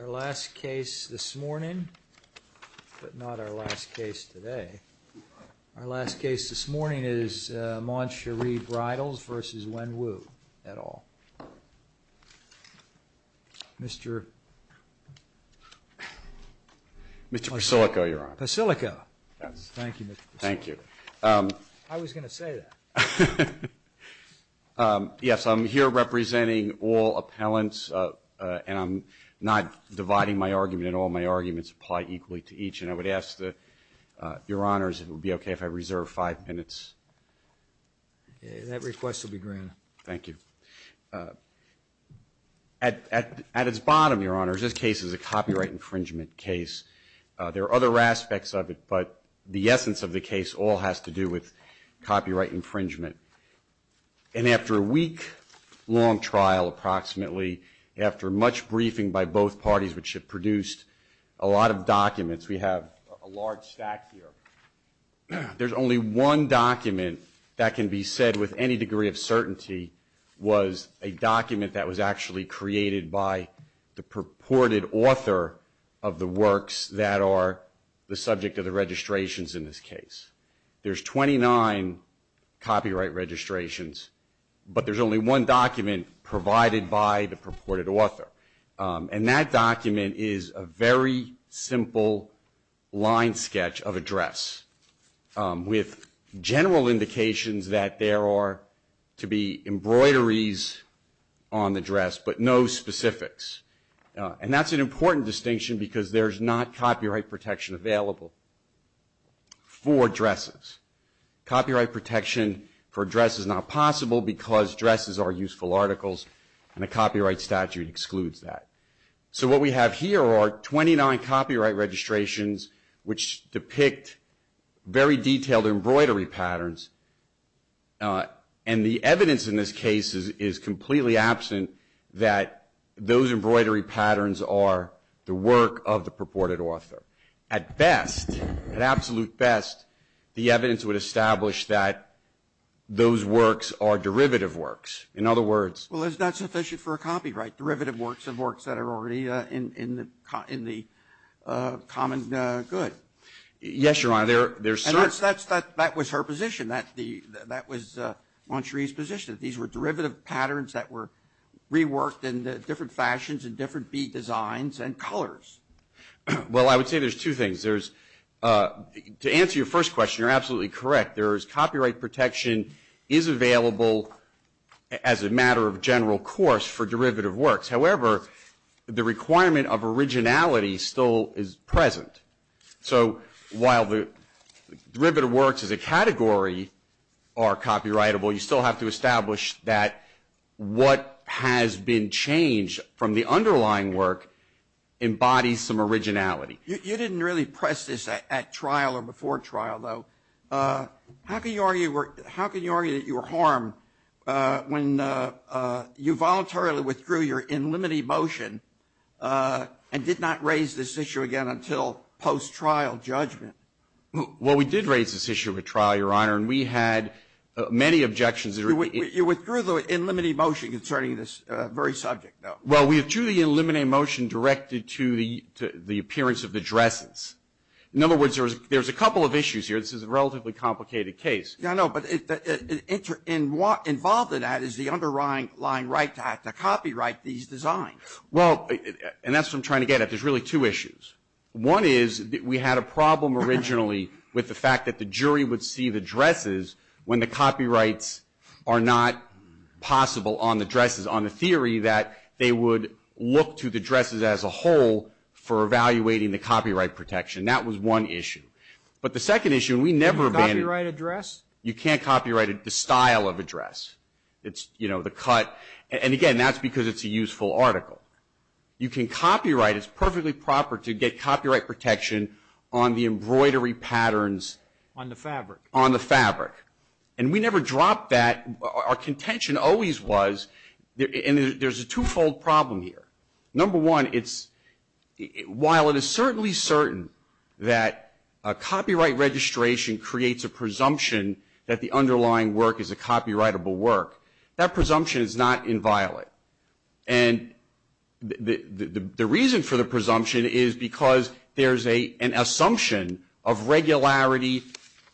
Our last case this morning, but not our last case today, is Mon Cheri Bridals v. Wen Wu at all. Mr. Pasilico. I was going to say that. Yes, I'm here representing all appellants, and I'm not dividing my argument at all. My arguments apply equally to each, and I would ask that, Your Honors, it would be okay if I reserve five minutes. That request will be granted. Thank you. At its bottom, Your Honors, this case is a copyright infringement case. There are other aspects of it, but the essence of the case all has to do with copyright infringement. And after a week-long trial, approximately, after much briefing by both parties, which have produced a lot of documents, we have a large stack here, there's only one document that can be said with any degree of certainty was a document that was actually created by the purported author of the works that are the subject of the registrations in this case. There's 29 copyright registrations, but there's only one document provided by the purported author. And that document is a very simple line sketch of a dress with general indications that there are to be embroideries on the dress, but no specifics. And that's an important distinction because there's not copyright protection available for dresses. Copyright protection for a dress is not possible because dresses are useful articles, and a copyright statute excludes that. So what we have here are 29 copyright registrations which depict very detailed embroidery patterns, and the evidence in this case is completely absent that those embroidery patterns are the work of the purported author. At best, at absolute best, the evidence would establish that those works are derivative works. In other words – Well, it's not sufficient for a copyright. Derivative works are works that are already in the common good. Yes, Your Honor, there's certain – And that was her position. That was Mon Cherie's position. These were derivative patterns that were reworked in different fashions and different bead designs and colors. Well, I would say there's two things. There's – to answer your first question, you're absolutely correct. There is – copyright protection is available as a matter of general course for derivative works. However, the requirement of originality still is present. So while the derivative works as a category are copyrightable, you still have to establish that what has been changed from the underlying work embodies some originality. You didn't really press this at trial or before trial, though. How can you argue that you were harmed when you voluntarily withdrew your in limine motion and did not raise this issue again until post-trial judgment? Well, we did raise this issue at trial, Your Honor, and we had many objections. You withdrew the in limine motion concerning this very subject, though. Well, we withdrew the in limine motion directed to the appearance of the dresses. In other words, there's a couple of issues here. This is a relatively complicated case. Yeah, I know, but involved in that is the underlying right to have to copyright these designs. Well, and that's what I'm trying to get at. There's really two issues. One is that we had a problem originally with the fact that the jury would see the dresses when the copyrights are not possible on the dresses, on the theory that they would look to the dresses as a whole for evaluating the copyright protection. That was one issue. But the second issue, we never banned it. Can you copyright a dress? You can't copyright the style of a dress. It's, you know, the cut. And again, that's because it's a useful article. You can copyright, it's perfectly proper to get copyright protection on the embroidery patterns. On the fabric. On the fabric. And we never dropped that. Our contention always was, and there's a two-fold problem here. Number one, it's, while it is certainly certain that a copyright registration creates a presumption that the underlying work is a copyrightable work, that presumption is not inviolate. And the reason for the presumption is because there's an assumption of regularity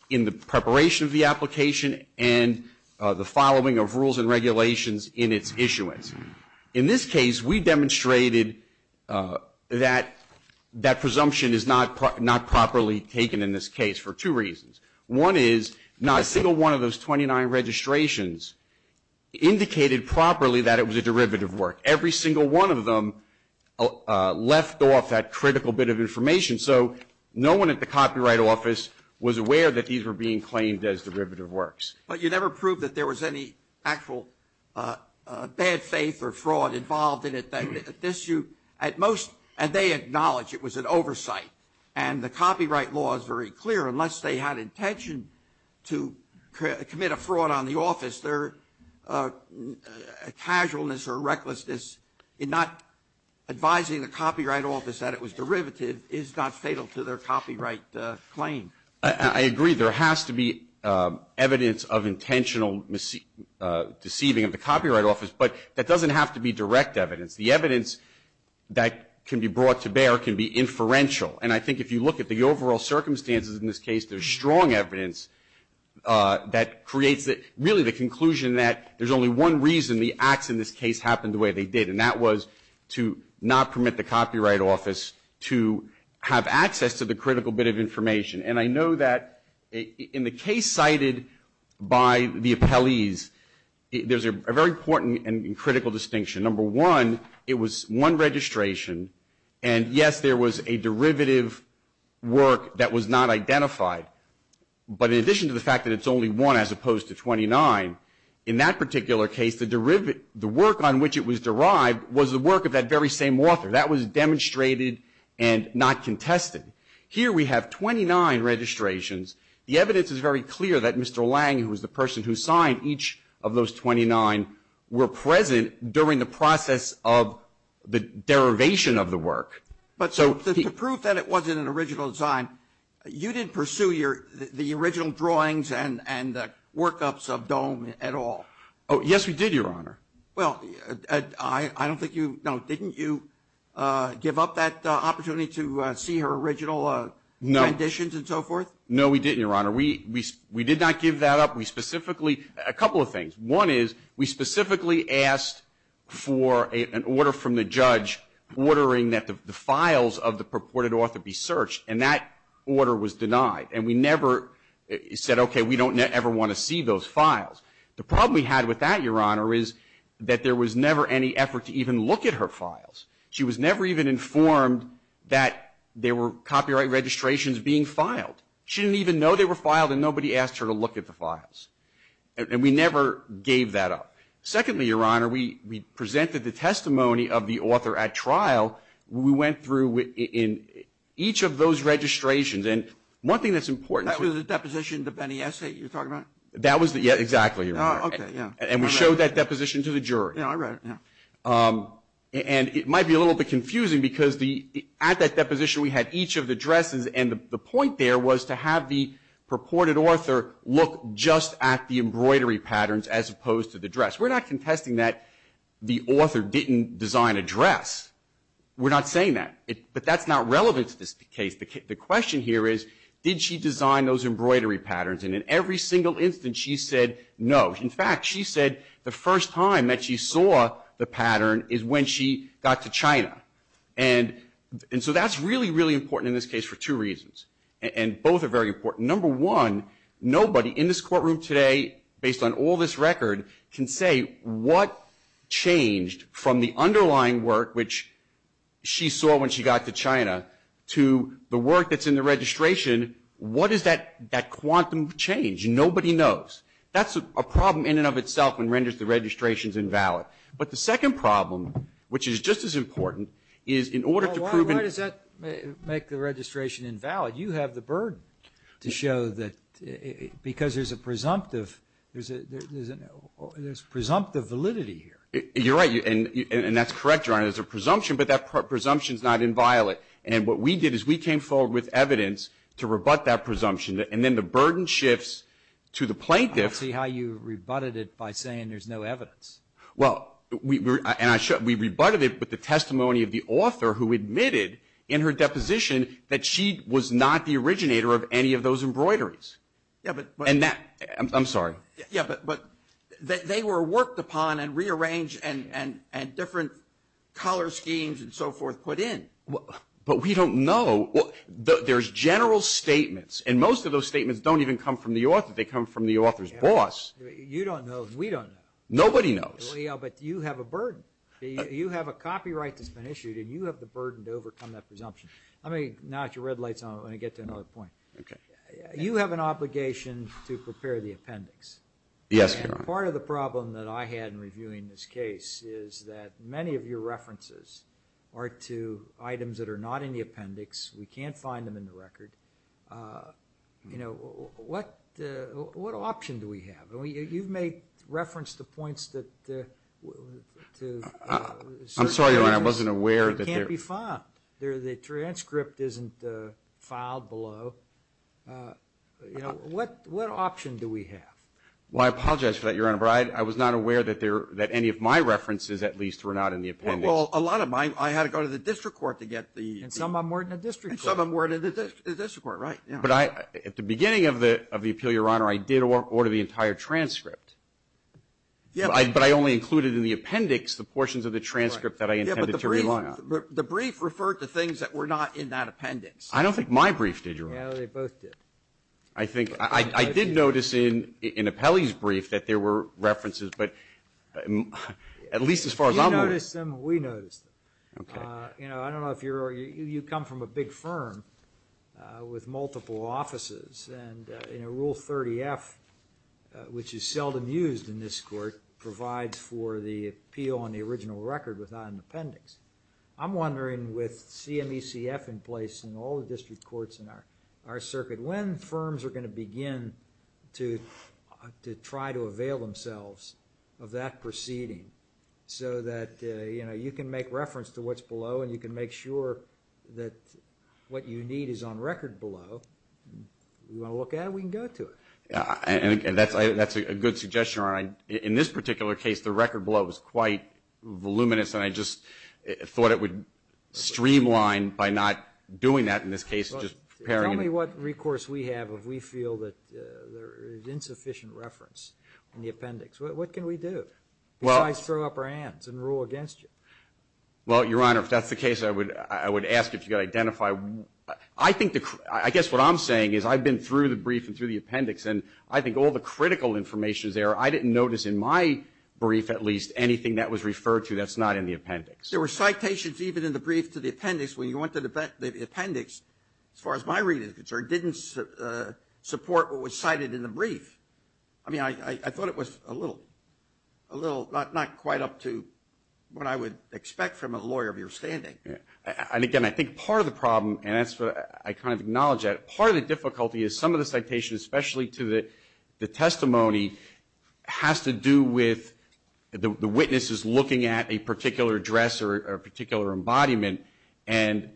in the preparation of the application and the following of rules and regulations in its issuance. In this case, we demonstrated that that presumption is not properly taken in this case for two reasons. One is not a single one of those 29 registrations indicated properly that it was a derivative work. Every single one of them left off that critical bit of information. So no one at the Copyright Office was aware that these were being claimed as derivative works. But you never proved that there was any actual bad faith or fraud involved in it. And they acknowledge it was an oversight. And the copyright law is very clear. Unless they had intention to commit a fraud on the office, their casualness or recklessness in not advising the Copyright Office that it was derivative is not fatal to their copyright claim. I agree. There has to be evidence of intentional deceiving of the Copyright Office, but that doesn't have to be direct evidence. The evidence that can be brought to bear can be inferential. And I think if you look at the overall circumstances in this case, there's strong evidence that creates really the conclusion that there's only one reason the acts in this case happened the way they did, and that was to not permit the Copyright Office to have access to the critical bit of information. And I know that in the case cited by the appellees, there's a very important and critical distinction. Number one, it was one registration. And, yes, there was a derivative work that was not identified. But in addition to the fact that it's only one as opposed to 29, in that particular case, the work on which it was derived was the work of that very same author. That was demonstrated and not contested. Here we have 29 registrations. The evidence is very clear that Mr. Lang, who was the person who signed each of those 29, were present during the process of the derivation of the work. But the proof that it wasn't an original design, you didn't pursue the original drawings and workups of Dohm at all? Oh, yes, we did, Your Honor. Well, I don't think you, no, didn't you give up that opportunity to see her original renditions and so forth? No, we didn't, Your Honor. We did not give that up. We specifically, a couple of things. One is we specifically asked for an order from the judge ordering that the files of the purported author be searched. And that order was denied. And we never said, okay, we don't ever want to see those files. The problem we had with that, Your Honor, is that there was never any effort to even look at her files. She was never even informed that there were copyright registrations being filed. She didn't even know they were filed, and nobody asked her to look at the files. And we never gave that up. Secondly, Your Honor, we presented the testimony of the author at trial. We went through each of those registrations. And one thing that's important. That was the deposition, the Benny essay you're talking about? That was the, yeah, exactly, Your Honor. Okay, yeah. And we showed that deposition to the jury. Yeah, I read it, yeah. And it might be a little bit confusing because at that deposition we had each of the dresses. And the point there was to have the purported author look just at the embroidery patterns as opposed to the dress. We're not contesting that the author didn't design a dress. We're not saying that. But that's not relevant to this case. The question here is, did she design those embroidery patterns? And in every single instance she said no. In fact, she said the first time that she saw the pattern is when she got to China. And so that's really, really important in this case for two reasons. And both are very important. Number one, nobody in this courtroom today, based on all this record, can say what changed from the underlying work, which she saw when she got to China, to the work that's in the registration. What is that quantum change? Nobody knows. That's a problem in and of itself and renders the registrations invalid. But the second problem, which is just as important, is in order to prove and – Well, why does that make the registration invalid? You have the burden to show that because there's a presumptive validity here. You're right. And that's correct, Your Honor. There's a presumption, but that presumption is not inviolate. And what we did is we came forward with evidence to rebut that presumption. And then the burden shifts to the plaintiff. I don't see how you rebutted it by saying there's no evidence. Well, we rebutted it with the testimony of the author who admitted in her deposition that she was not the originator of any of those embroideries. Yeah, but – I'm sorry. Yeah, but they were worked upon and rearranged and different color schemes and so forth put in. But we don't know. There's general statements, and most of those statements don't even come from the author. They come from the author's boss. You don't know. We don't know. Nobody knows. But you have a burden. You have a copyright that's been issued, and you have the burden to overcome that presumption. Let me knock your red lights on it when I get to another point. Okay. You have an obligation to prepare the appendix. Yes, Your Honor. And part of the problem that I had in reviewing this case is that many of your references are to items that are not in the appendix. We can't find them in the record. You know, what option do we have? You've made reference to points that – I'm sorry, Your Honor. I wasn't aware that there – Can't be found. The transcript isn't filed below. What option do we have? Well, I apologize for that, Your Honor. But I was not aware that any of my references, at least, were not in the appendix. Well, a lot of them. I had to go to the district court to get the – And some of them were in the district court. And some of them were in the district court, right. But I – at the beginning of the appeal, Your Honor, I did order the entire transcript. Yeah. But I only included in the appendix the portions of the transcript that I intended to rely on. Yeah, but the brief referred to things that were not in that appendix. I don't think my brief did, Your Honor. No, they both did. I think – I did notice in Apelli's brief that there were references, but at least as far as I'm aware – You notice them. We notice them. Okay. You know, I don't know if you're – you come from a big firm with multiple offices. And, you know, Rule 30F, which is seldom used in this court, provides for the appeal on the original record without an appendix. I'm wondering, with CMECF in place and all the district courts in our circuit, when firms are going to begin to try to avail themselves of that proceeding so that, you know, you can make reference to what's below and you can make sure that what you need is on record below. You want to look at it? We can go to it. And that's a good suggestion, Your Honor. In this particular case, the record below was quite voluminous, and I just thought it would streamline by not doing that in this case. Tell me what recourse we have if we feel that there is insufficient reference in the appendix. What can we do? We might throw up our hands and rule against you. Well, Your Honor, if that's the case, I would ask if you could identify – I think the – I guess what I'm saying is I've been through the brief and through the appendix, and I think all the critical information is there. I didn't notice in my brief at least anything that was referred to that's not in the appendix. There were citations even in the brief to the appendix when you went to the appendix. As far as my reading is concerned, it didn't support what was cited in the brief. I mean, I thought it was a little – not quite up to what I would expect from a lawyer of your standing. And, again, I think part of the problem, and I kind of acknowledge that, part of the difficulty is some of the citations, especially to the testimony, has to do with the witnesses looking at a particular dress or a particular embodiment, and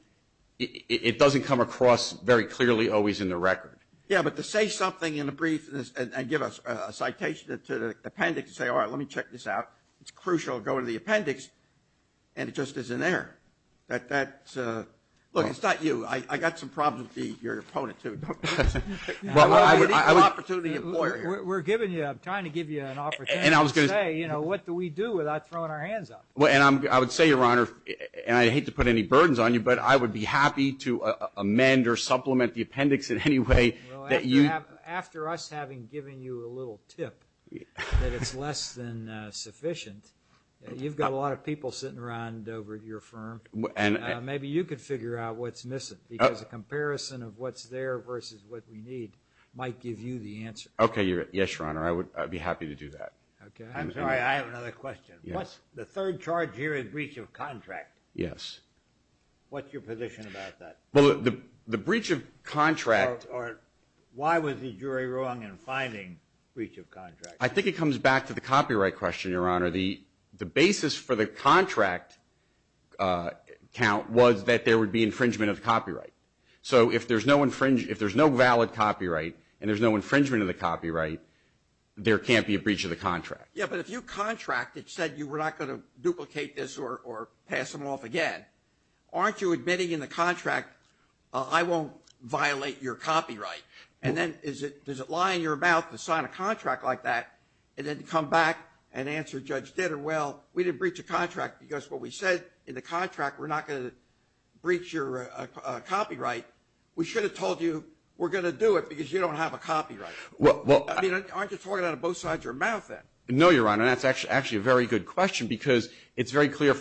it doesn't come across very clearly always in the record. Yeah, but to say something in the brief and give a citation to the appendix and say, all right, let me check this out, it's crucial to go to the appendix, and it just isn't there. That's – look, it's not you. I've got some problems with your opponent, too. I'm an opportunity employer. We're giving you – I'm trying to give you an opportunity to say, you know, what do we do without throwing our hands up? And I would say, Your Honor, and I hate to put any burdens on you, but I would be happy to amend or supplement the appendix in any way that you – Well, after us having given you a little tip that it's less than sufficient, you've got a lot of people sitting around over at your firm. Maybe you could figure out what's missing because a comparison of what's there versus what we need might give you the answer. Okay, yes, Your Honor, I would be happy to do that. I'm sorry, I have another question. Yes. The third charge here is breach of contract. Yes. What's your position about that? Well, the breach of contract – Or why was the jury wrong in finding breach of contract? I think it comes back to the copyright question, Your Honor. The basis for the contract count was that there would be infringement of copyright. So if there's no valid copyright and there's no infringement of the copyright, there can't be a breach of the contract. Yeah, but if you contract that said you were not going to duplicate this or pass them off again, aren't you admitting in the contract, I won't violate your copyright? And then does it lie in your mouth to sign a contract like that and then come back and answer Judge Ditter, well, we didn't breach a contract because what we said in the contract, we're not going to breach your copyright. We should have told you we're going to do it because you don't have a copyright. Aren't you talking out of both sides of your mouth then? No, Your Honor, that's actually a very good question because it's very clear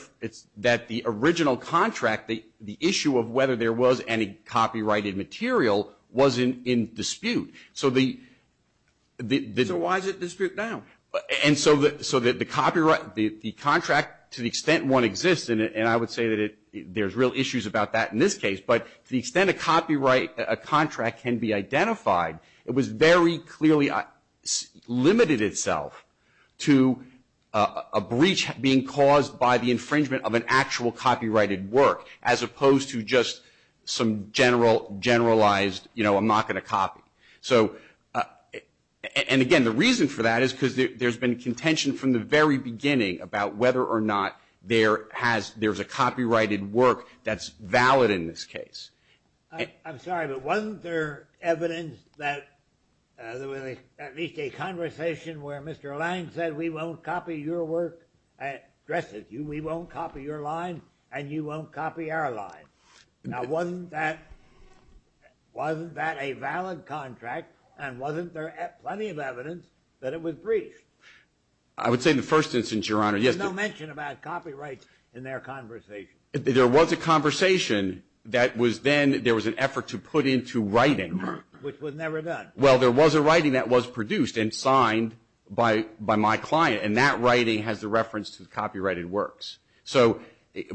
that the original contract, the issue of whether there was any copyrighted material was in dispute. So why is it in dispute now? And so the contract, to the extent one exists, and I would say that there's real issues about that in this case, but to the extent a copyright contract can be identified, it was very clearly limited itself to a breach being caused by the infringement of an actual copyrighted work as opposed to just some generalized, you know, I'm not going to copy. And again, the reason for that is because there's been contention from the very beginning about whether or not there's a copyrighted work that's valid in this case. I'm sorry, but wasn't there evidence that there was at least a conversation where Mr. Lange said we won't copy your work, addresses you, we won't copy your line and you won't copy our line. Now, wasn't that a valid contract and wasn't there plenty of evidence that it was breached? I would say in the first instance, Your Honor, yes. There's no mention about copyrights in their conversation. There was a conversation that was then, there was an effort to put into writing. Which was never done. Well, there was a writing that was produced and signed by my client, and that writing has the reference to the copyrighted works. So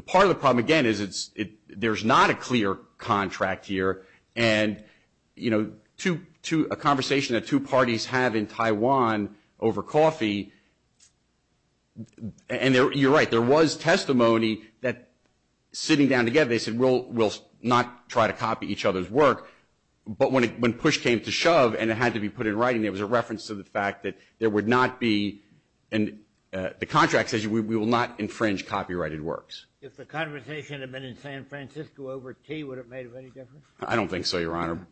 part of the problem, again, is there's not a clear contract here, and, you know, a conversation that two parties have in Taiwan over coffee, and you're right, there was testimony that sitting down together, they said we'll not try to copy each other's work, but when push came to shove and it had to be put in writing, there was a reference to the fact that there would not be, and the contract says we will not infringe copyrighted works. If the conversation had been in San Francisco over tea, would it have made any difference? I don't think so, Your Honor.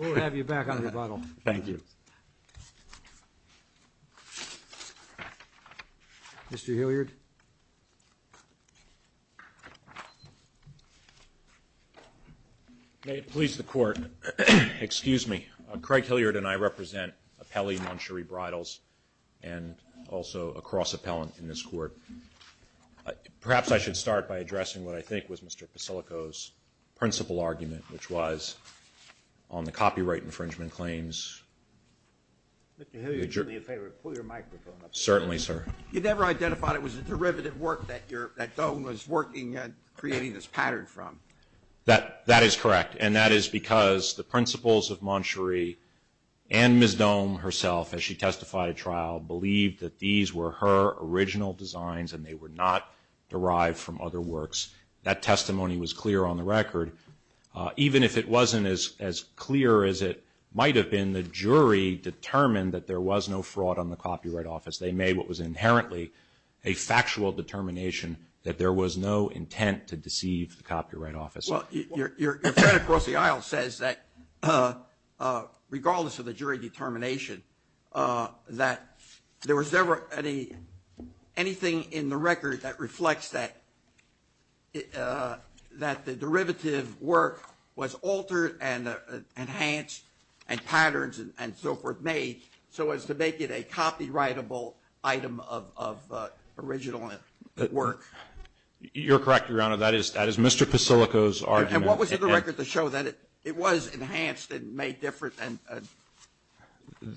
We'll have you back on rebuttal. Thank you. Mr. Hilliard. May it please the Court. Excuse me. Craig Hilliard and I represent Appellee Mon Cherie Bridles, and also a cross-appellant in this Court. Perhaps I should start by addressing what I think was Mr. Pasilko's principal argument, which was on the copyright infringement claims. Mr. Hilliard, would you do me a favor and pull your microphone up? Certainly, sir. You never identified it was a derivative work that Dohm was working and creating this pattern from. That is correct, and that is because the principals of Mon Cherie and Ms. Dohm herself, as she testified at trial, believed that these were her original designs and they were not derived from other works. That testimony was clear on the record. Even if it wasn't as clear as it might have been, the jury determined that there was no fraud on the copyright office. They made what was inherently a factual determination that there was no intent to deceive the copyright office. Your friend across the aisle says that, regardless of the jury determination, that there was never anything in the record that reflects that the derivative work was altered and enhanced and patterns and so forth made so as to make it a copyrightable item of original work. You're correct, Your Honor. That is Mr. Pasilko's argument. And what was in the record to show that it was enhanced and made different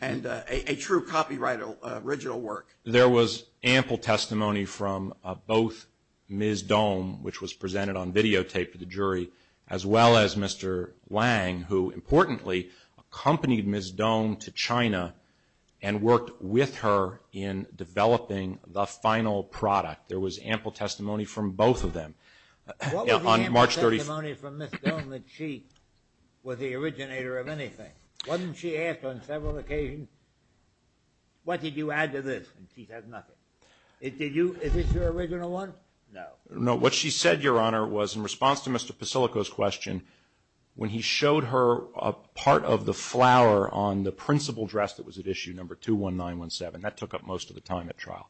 and a true copyrighted original work? There was ample testimony from both Ms. Dohm, which was presented on videotape to the jury, as well as Mr. Wang, who, importantly, accompanied Ms. Dohm to China and worked with her in developing the final product. There was ample testimony from both of them. What was the ample testimony from Ms. Dohm that she was the originator of anything? Wasn't she asked on several occasions, what did you add to this, and she said nothing. Is this your original one? No. No, what she said, Your Honor, was in response to Mr. Pasilko's question, when he showed her a part of the flower on the principal dress that was at issue number 21917, that took up most of the time at trial.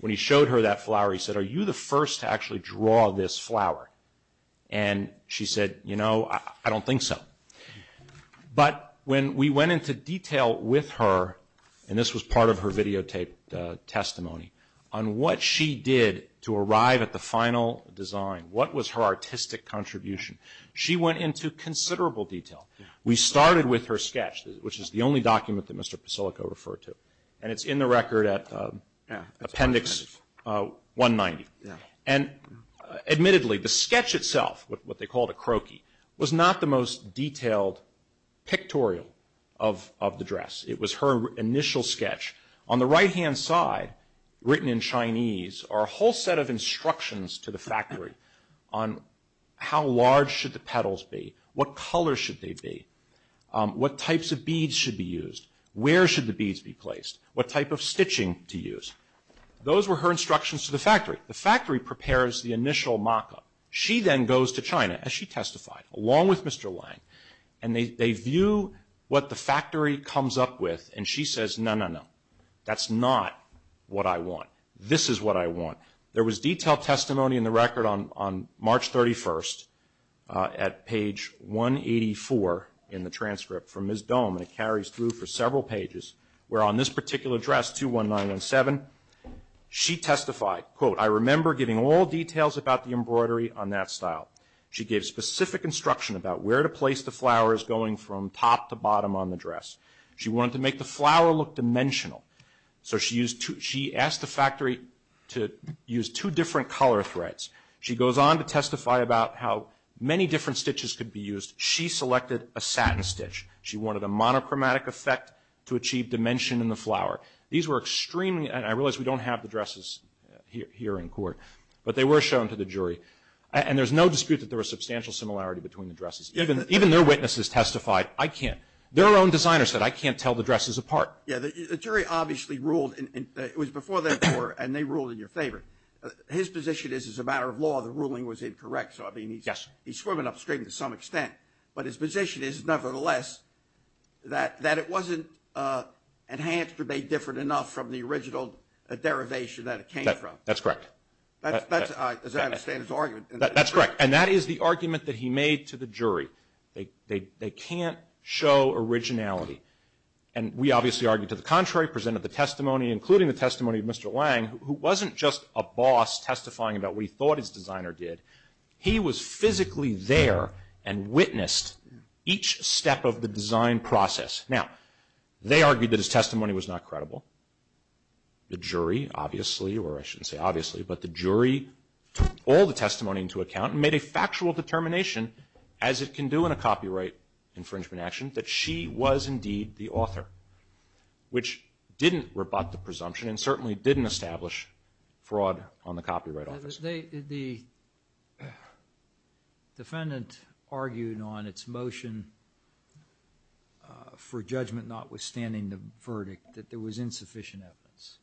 When he showed her that flower, he said, are you the first to actually draw this flower? And she said, you know, I don't think so. But when we went into detail with her, and this was part of her videotaped testimony, on what she did to arrive at the final design, what was her artistic contribution, she went into considerable detail. We started with her sketch, which is the only document that Mr. Pasilko referred to. And it's in the record at appendix 190. And admittedly, the sketch itself, what they called a croquis, was not the most detailed pictorial of the dress. It was her initial sketch. On the right-hand side, written in Chinese, are a whole set of instructions to the factory on how large should the petals be, what color should they be, what types of beads should be used, where should the beads be placed, what type of stitching to use. Those were her instructions to the factory. The factory prepares the initial mock-up. She then goes to China, as she testified, along with Mr. Lang, and they view what the factory comes up with, and she says, no, no, no. That's not what I want. This is what I want. There was detailed testimony in the record on March 31st at page 184 in the transcript from Ms. Dohm, and it carries through for several pages, where on this particular dress, 21917, she testified, quote, I remember giving all details about the embroidery on that style. She gave specific instruction about where to place the flowers going from top to bottom on the dress. She wanted to make the flower look dimensional. So she asked the factory to use two different color threads. She goes on to testify about how many different stitches could be used. She selected a satin stitch. She wanted a monochromatic effect to achieve dimension in the flower. These were extremely, and I realize we don't have the dresses here in court, but they were shown to the jury. And there's no dispute that there was substantial similarity between the dresses. Even their witnesses testified, I can't. Their own designer said, I can't tell the dresses apart. Yeah, the jury obviously ruled, it was before their court, and they ruled in your favor. His position is, as a matter of law, the ruling was incorrect. So, I mean, he's swimming upstream to some extent. But his position is, nevertheless, that it wasn't enhanced or made different enough from the original derivation that it came from. That's correct. As I understand his argument. That's correct. And that is the argument that he made to the jury. They can't show originality. And we obviously argued to the contrary, presented the testimony, including the testimony of Mr. Lang, who wasn't just a boss testifying about what he thought his designer did. He was physically there and witnessed each step of the design process. Now, they argued that his testimony was not credible. The jury, obviously, or I shouldn't say obviously, but the jury took all the testimony into account and made a factual determination, as it can do in a copyright infringement action, that she was indeed the author. Which didn't rebut the presumption and certainly didn't establish fraud on the copyright office. The defendant argued on its motion for judgment notwithstanding the verdict that there was insufficient evidence.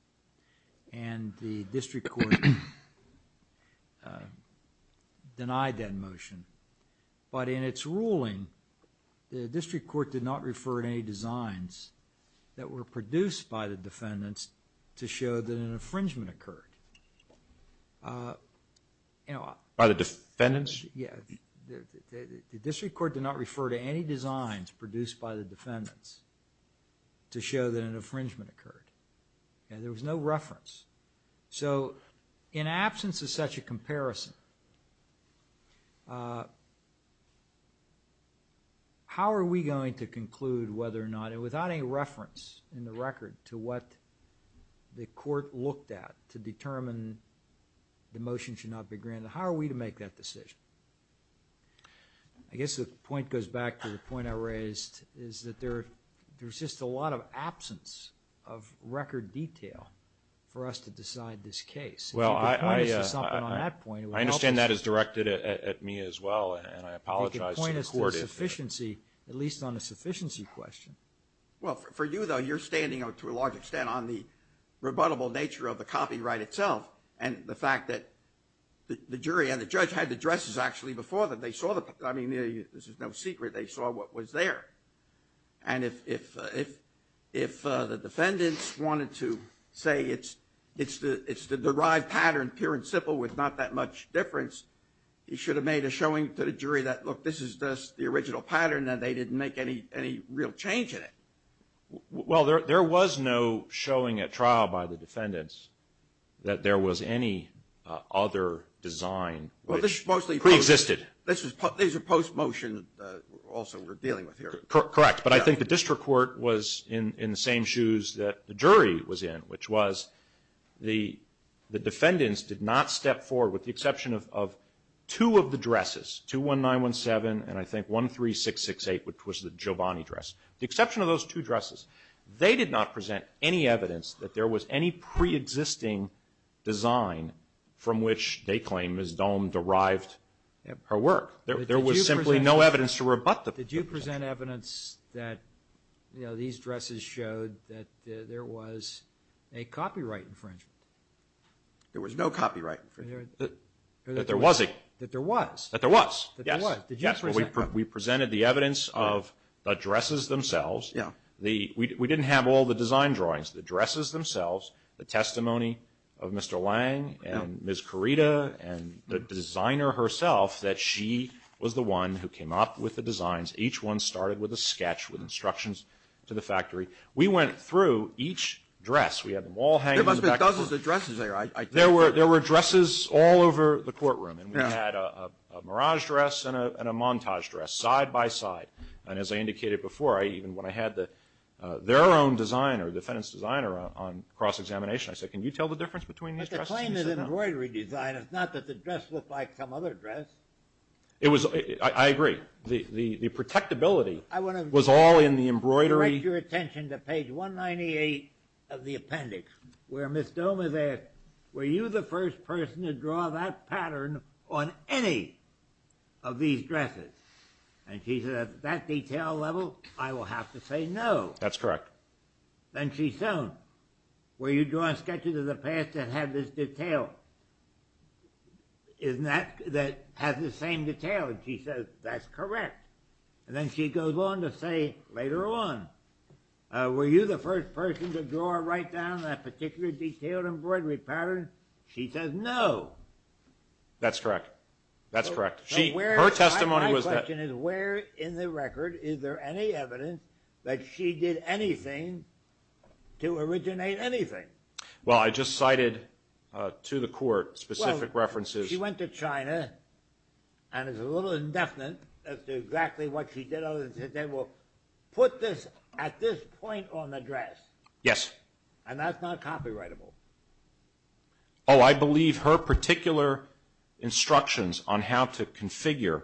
And the district court denied that motion. But in its ruling, the district court did not refer to any designs that were produced by the defendants to show that an infringement occurred. By the defendants? Yes. The district court did not refer to any designs produced by the defendants to show that an infringement occurred. And there was no reference. So, in absence of such a comparison, how are we going to conclude whether or not, and without any reference in the record to what the court looked at to determine the motion should not be granted, how are we to make that decision? There's just a lot of absence of record detail for us to decide this case. Well, I understand that is directed at me as well, and I apologize to the court. They can point us to a sufficiency, at least on a sufficiency question. Well, for you, though, you're standing out to a large extent on the rebuttable nature of the copyright itself and the fact that the jury and the judge had the addresses actually before them. I mean, this is no secret. They saw what was there. And if the defendants wanted to say it's the derived pattern, pure and simple, with not that much difference, you should have made a showing to the jury that, look, this is just the original pattern and they didn't make any real change in it. Well, there was no showing at trial by the defendants that there was any other design which preexisted. These are post-motion also we're dealing with here. Correct. But I think the district court was in the same shoes that the jury was in, which was the defendants did not step forward, with the exception of two of the dresses, 21917 and I think 13668, The exception of those two dresses, they did not present any evidence that there was any preexisting design from which they claim Ms. Dohm derived her work. There was simply no evidence to rebut the presentation. Did you present evidence that, you know, these dresses showed that there was a copyright infringement? There was no copyright infringement. That there was. That there was. That there was, yes. Did you present evidence? We presented the evidence of the dresses themselves. Yeah. We didn't have all the design drawings, the dresses themselves, the testimony of Mr. Lange and Ms. Corita and the designer herself that she was the one who came up with the designs. Each one started with a sketch with instructions to the factory. We went through each dress. We had them all hanging in the back. There must have been dozens of dresses there. There were dresses all over the courtroom. Yeah. And we had a mirage dress and a montage dress side by side. And as I indicated before, even when I had their own designer, defendant's designer on cross-examination, I said, can you tell the difference between these dresses? But the claim is embroidery design. It's not that the dress looked like some other dress. I agree. The protectability was all in the embroidery. I want to direct your attention to page 198 of the appendix, where Ms. Dohm is asked, were you the first person to draw that pattern on any of these dresses? And she says, at that detail level, I will have to say no. That's correct. Then she's shown, were you drawing sketches of the past that had this detail, that had the same detail? And she says, that's correct. And then she goes on to say later on, were you the first person to draw or write down that particular detailed embroidery pattern? She says no. That's correct. That's correct. My question is, where in the record is there any evidence that she did anything to originate anything? Well, I just cited to the court specific references. Well, she went to China, and it's a little indefinite as to exactly what she did, other than to say, well, put this at this point on the dress. Yes. And that's not copyrightable. Oh, I believe her particular instructions on how to configure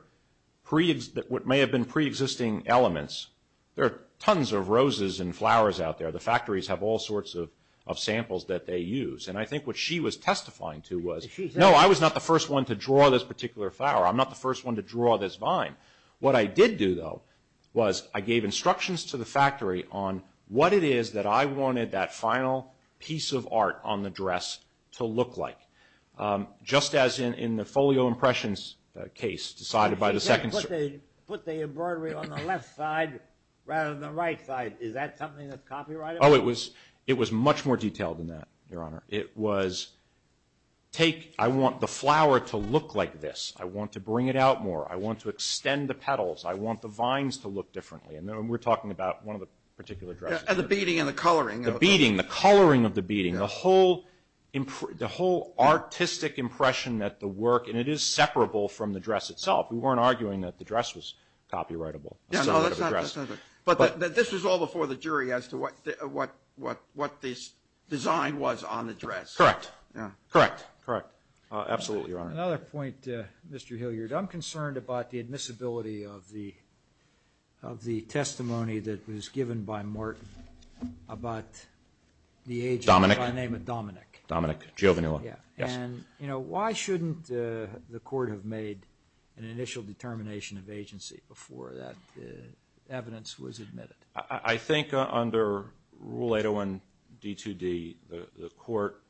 what may have been preexisting elements. There are tons of roses and flowers out there. The factories have all sorts of samples that they use. And I think what she was testifying to was, no, I was not the first one to draw this particular flower. I'm not the first one to draw this vine. What I did do, though, was I gave instructions to the factory on what it is that I wanted that final piece of art on the dress to look like, just as in the folio impressions case decided by the second. She said put the embroidery on the left side rather than the right side. Is that something that's copyrightable? Oh, it was much more detailed than that, Your Honor. It was, I want the flower to look like this. I want to bring it out more. I want to extend the petals. I want the vines to look differently. And we're talking about one of the particular dresses. And the beading and the coloring. The beading, the coloring of the beading, the whole artistic impression that the work, and it is separable from the dress itself. We weren't arguing that the dress was copyrightable. No, that's not it. But this was all before the jury as to what this design was on the dress. Correct. Correct. Absolutely, Your Honor. Another point, Mr. Hilliard. I'm concerned about the admissibility of the testimony that was given by Martin about the agent. Dominic. By the name of Dominic. Dominic Giovinella. Yes. And, you know, why shouldn't the court have made an initial determination of agency before that evidence was admitted? I think under Rule 801 D2D, the court,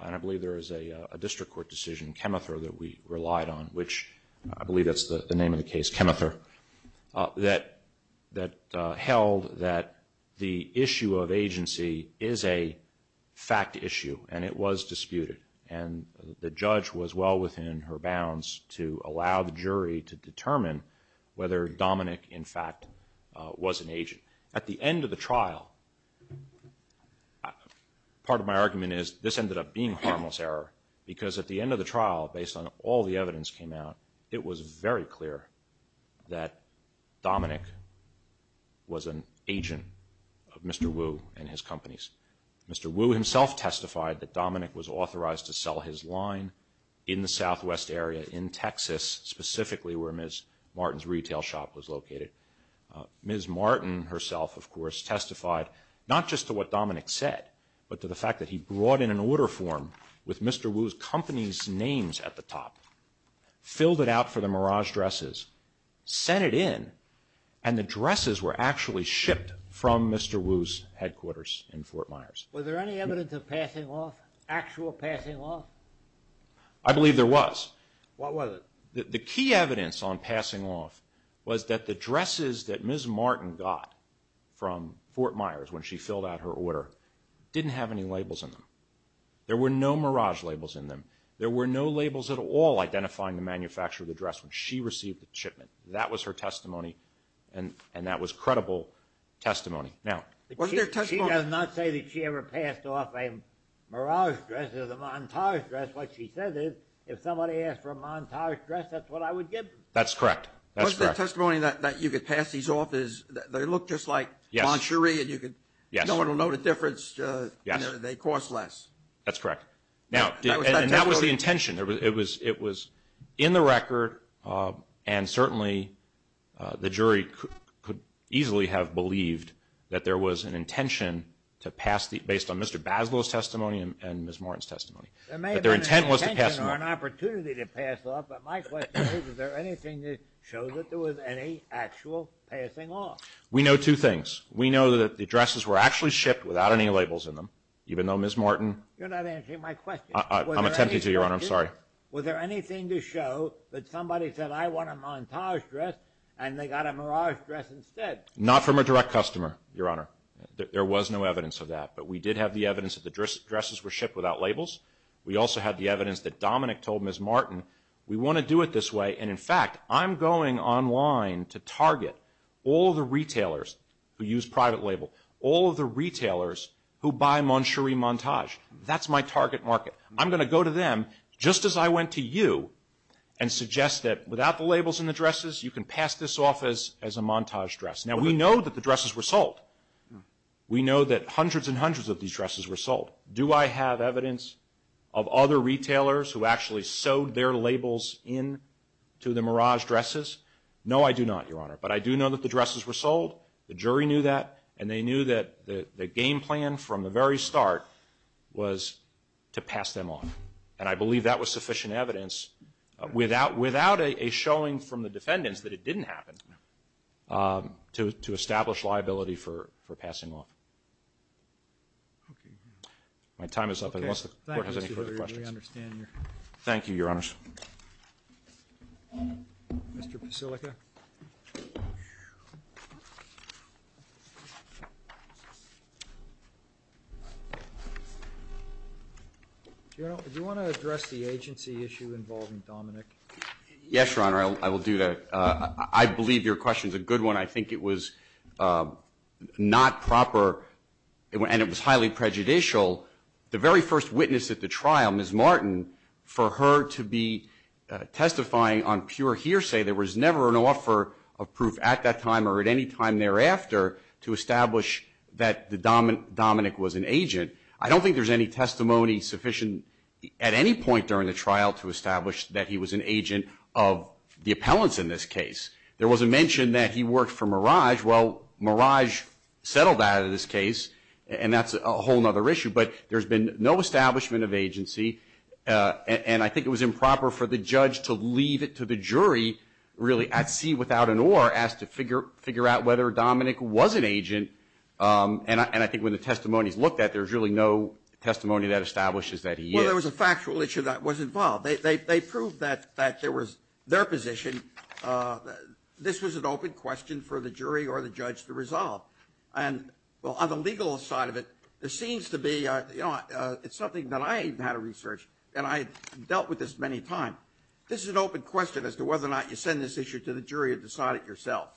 and I believe there is a district court decision, Chemether, that we relied on, which I believe that's the name of the case, Chemether, that held that the issue of agency is a fact issue and it was disputed. And the judge was well within her bounds to allow the jury to determine whether Dominic, in fact, was an agent. At the end of the trial, part of my argument is this ended up being a harmless error because at the end of the trial, based on all the evidence that came out, it was very clear that Dominic was an agent of Mr. Wu and his companies. Mr. Wu himself testified that Dominic was authorized to sell his line in the southwest area in Texas, specifically where Ms. Martin's retail shop was located. Ms. Martin herself, of course, testified not just to what Dominic said, but to the fact that he brought in an order form with Mr. Wu's company's names at the top, filled it out for the Mirage dresses, sent it in, and the dresses were actually shipped from Mr. Wu's headquarters in Fort Myers. Was there any evidence of passing off, actual passing off? I believe there was. What was it? The key evidence on passing off was that the dresses that Ms. Martin got from Fort Myers when she filled out her order didn't have any labels in them. There were no Mirage labels in them. There were no labels at all identifying the manufacturer of the dress when she received the shipment. That was her testimony, and that was credible testimony. She does not say that she ever passed off a Mirage dress as a Montage dress. That's what she says is, if somebody asked for a Montage dress, that's what I would give them. That's correct. What's the testimony that you could pass these off as? They look just like Monturee, and no one will know the difference. They cost less. That's correct. And that was the intention. It was in the record, and certainly the jury could easily have believed that there was an intention based on Mr. Baslow's testimony and Ms. Martin's testimony. There may have been an intention or an opportunity to pass off, but my question is, is there anything to show that there was any actual passing off? We know two things. We know that the dresses were actually shipped without any labels in them, even though Ms. Martin— You're not answering my question. I'm attempting to, Your Honor. I'm sorry. Was there anything to show that somebody said, I want a Montage dress, and they got a Mirage dress instead? Not from a direct customer, Your Honor. There was no evidence of that. But we did have the evidence that the dresses were shipped without labels. We also had the evidence that Dominick told Ms. Martin, we want to do it this way. And, in fact, I'm going online to target all the retailers who use private label, all of the retailers who buy Monturee Montage. That's my target market. I'm going to go to them, just as I went to you, and suggest that without the labels in the dresses, you can pass this off as a Montage dress. Now, we know that the dresses were sold. We know that hundreds and hundreds of these dresses were sold. Do I have evidence of other retailers who actually sewed their labels into the Mirage dresses? No, I do not, Your Honor. But I do know that the dresses were sold. The jury knew that, and they knew that the game plan from the very start was to pass them off. And I believe that was sufficient evidence, without a showing from the defendants that it didn't happen, to establish liability for passing off. My time is up, unless the court has any further questions. Thank you, Your Honors. Mr. Pasilica. General, do you want to address the agency issue involving Dominick? Yes, Your Honor, I will do that. I believe your question is a good one. I think it was not proper, and it was highly prejudicial. The very first witness at the trial, Ms. Martin, for her to be testifying on pure hearsay, there was never an offer of proof at that time or at any time thereafter to establish that Dominick was an agent. I don't think there's any testimony sufficient at any point during the trial to establish that he was an agent of the appellants in this case. There was a mention that he worked for Merage. Well, Merage settled that in this case, and that's a whole other issue. But there's been no establishment of agency, and I think it was improper for the judge to leave it to the jury, really at sea without an oar, as to figure out whether Dominick was an agent. And I think when the testimony is looked at, there's really no testimony that establishes that he is. Well, there was a factual issue that was involved. They proved that there was their position. This was an open question for the jury or the judge to resolve. And, well, on the legal side of it, it seems to be, you know, it's something that I've had to research, and I've dealt with this many times. This is an open question as to whether or not you send this issue to the jury or decide it yourself.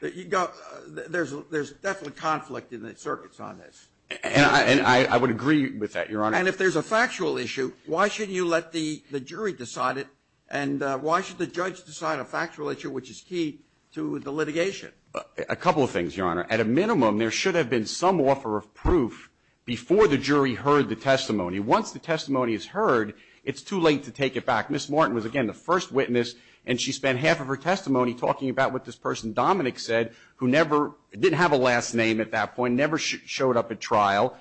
There's definitely conflict in the circuits on this. And I would agree with that, Your Honor. And if there's a factual issue, why shouldn't you let the jury decide it, and why should the judge decide a factual issue, which is key to the litigation? A couple of things, Your Honor. At a minimum, there should have been some offer of proof before the jury heard the testimony. Once the testimony is heard, it's too late to take it back. Ms. Martin was, again, the first witness, and she spent half of her testimony talking about what this person Dominick said, who never did have a last name at that point, never showed up at trial.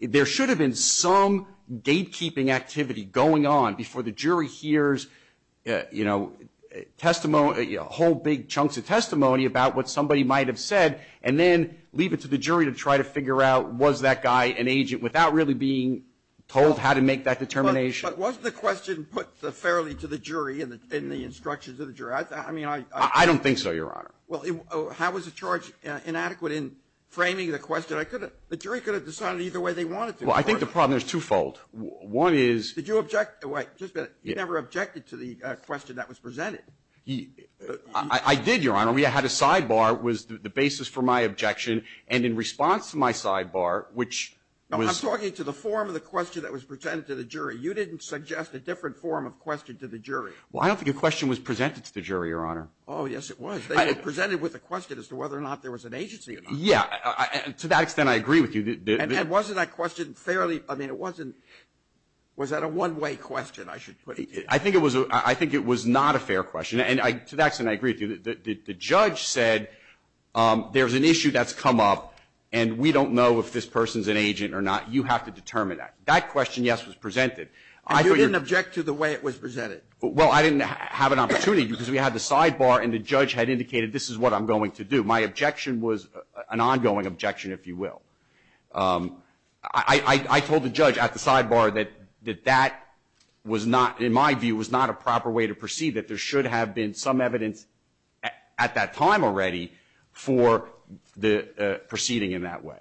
There should have been some gatekeeping activity going on before the jury hears, you know, testimony, whole big chunks of testimony about what somebody might have said, and then leave it to the jury to try to figure out, was that guy an agent without really being told how to make that determination? But wasn't the question put fairly to the jury in the instructions of the jury? I mean, I don't think so, Your Honor. Well, how was the charge inadequate in framing the question? The jury could have decided either way they wanted to. Well, I think the problem is twofold. One is — Did you object? Wait. Just a minute. You never objected to the question that was presented. I did, Your Honor. We had a sidebar. It was the basis for my objection. And in response to my sidebar, which was — No, I'm talking to the form of the question that was presented to the jury. You didn't suggest a different form of question to the jury. Well, I don't think a question was presented to the jury, Your Honor. Oh, yes, it was. It was presented with a question as to whether or not there was an agency or not. Yeah. To that extent, I agree with you. And wasn't that question fairly — I mean, it wasn't — was that a one-way question, I should put it? I think it was — I think it was not a fair question. And to that extent, I agree with you. The judge said there's an issue that's come up, and we don't know if this person's an agent or not. You have to determine that. That question, yes, was presented. And you didn't object to the way it was presented? Well, I didn't have an opportunity because we had the sidebar, and the judge had indicated this is what I'm going to do. My objection was an ongoing objection, if you will. I told the judge at the sidebar that that was not, in my view, was not a proper way to proceed, that there should have been some evidence at that time already for the proceeding in that way.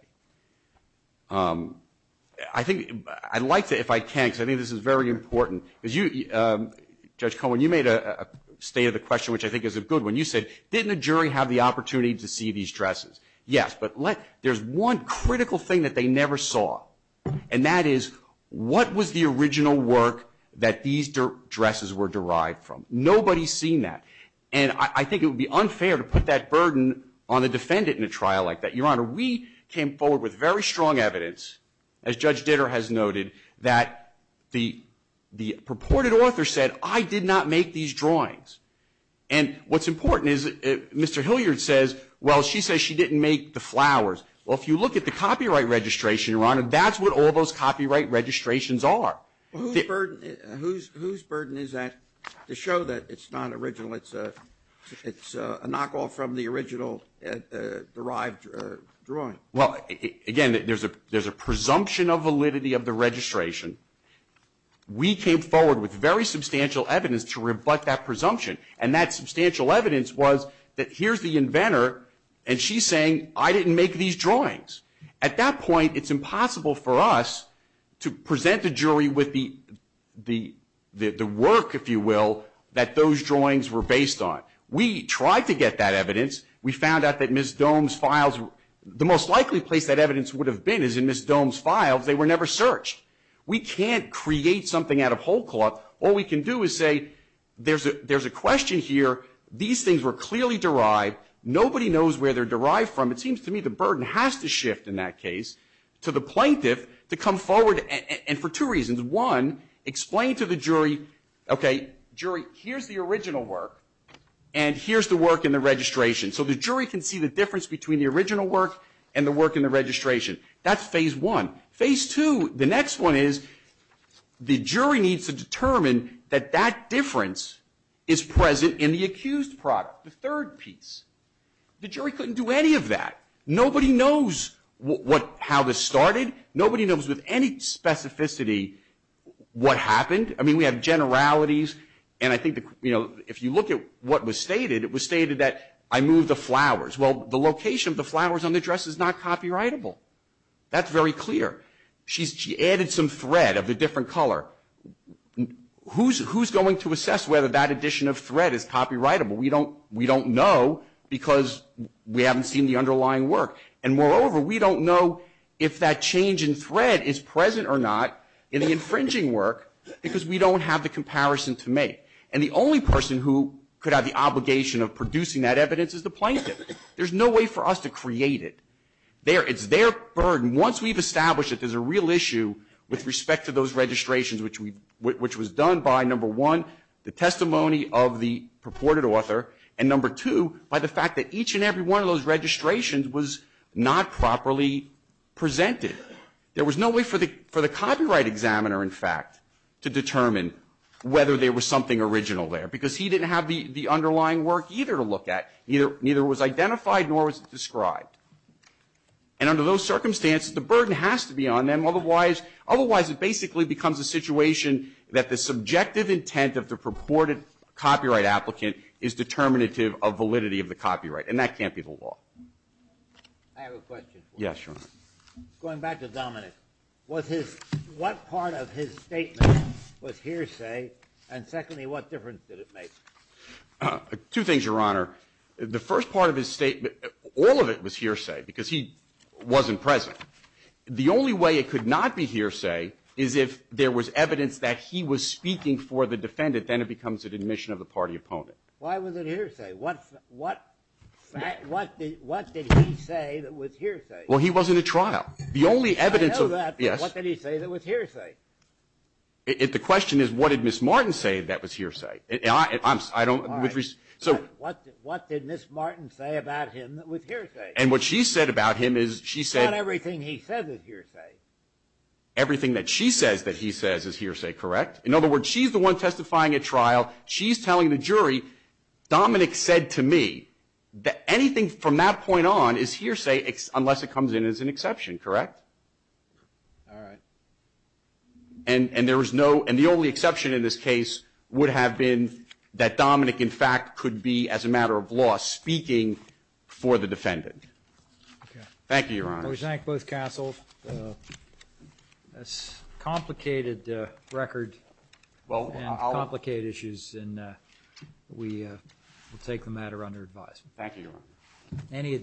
I think — I'd like to, if I can, because I think this is very important, because you — Judge Cohen, you made a state of the question, which I think is a good one. You said, didn't the jury have the opportunity to see these dresses? Yes, but there's one critical thing that they never saw, and that is what was the original work that these dresses were derived from? Nobody's seen that. And I think it would be unfair to put that burden on the defendant in a trial like that. Your Honor, we came forward with very strong evidence, as Judge Ditter has noted, that the purported author said, I did not make these drawings. And what's important is Mr. Hilliard says, well, she says she didn't make the flowers. Well, if you look at the copyright registration, Your Honor, that's what all those copyright registrations are. Whose burden is that to show that it's not original, it's a knockoff from the original derived drawing? Well, again, there's a presumption of validity of the registration. We came forward with very substantial evidence to rebut that presumption, and that substantial evidence was that here's the inventor, and she's saying, I didn't make these drawings. At that point, it's impossible for us to present the jury with the work, if you will, that those drawings were based on. We tried to get that evidence. We found out that Ms. Dohm's files, the most likely place that evidence would have been is in Ms. Dohm's files. They were never searched. We can't create something out of whole cloth. All we can do is say there's a question here. These things were clearly derived. Nobody knows where they're derived from. It seems to me the burden has to shift in that case to the plaintiff to come forward, and for two reasons. One, explain to the jury, okay, jury, here's the original work, and here's the work in the registration. So the jury can see the difference between the original work and the work in the registration. That's phase one. Phase two, the next one is the jury needs to determine that that difference is present in the accused product, the third piece. The jury couldn't do any of that. Nobody knows how this started. Nobody knows with any specificity what happened. I mean, we have generalities, and I think, you know, if you look at what was stated, it was stated that I moved the flowers. Well, the location of the flowers on the dress is not copyrightable. That's very clear. She added some thread of a different color. Who's going to assess whether that addition of thread is copyrightable? We don't know because we haven't seen the underlying work, and moreover, we don't know if that change in thread is present or not in the infringing work because we don't have the comparison to make. And the only person who could have the obligation of producing that evidence is the plaintiff. There's no way for us to create it. It's their burden. Once we've established that there's a real issue with respect to those registrations, which was done by, number one, the testimony of the purported author, and number two, by the fact that each and every one of those registrations was not properly presented. There was no way for the copyright examiner, in fact, to determine whether there was something original there because he didn't have the underlying work either to look at. Neither was identified nor was it described. And under those circumstances, the burden has to be on them. Otherwise, it basically becomes a situation that the subjective intent of the purported copyright applicant is determinative of validity of the copyright, and that can't be the law. I have a question for you. Yes, Your Honor. Going back to Dominic, what part of his statement was hearsay, and secondly, what difference did it make? Two things, Your Honor. The first part of his statement, all of it was hearsay because he wasn't present. The only way it could not be hearsay is if there was evidence that he was speaking for the defendant. Then it becomes an admission of the party opponent. Why was it hearsay? What did he say that was hearsay? Well, he was in a trial. The only evidence of that, yes. I know that, but what did he say that was hearsay? The question is, what did Ms. Martin say that was hearsay? All right. What did Ms. Martin say about him that was hearsay? And what she said about him is she said- Not everything he says is hearsay. Everything that she says that he says is hearsay, correct? In other words, she's the one testifying at trial. She's telling the jury, Dominic said to me that anything from that point on is hearsay unless it comes in as an exception, correct? All right. And the only exception in this case would have been that Dominic, in fact, could be, as a matter of law, speaking for the defendant. Thank you, Your Honor. We thank both counsels. It's a complicated record and complicated issues, and we will take the matter under advisement. Thank you, Your Honor.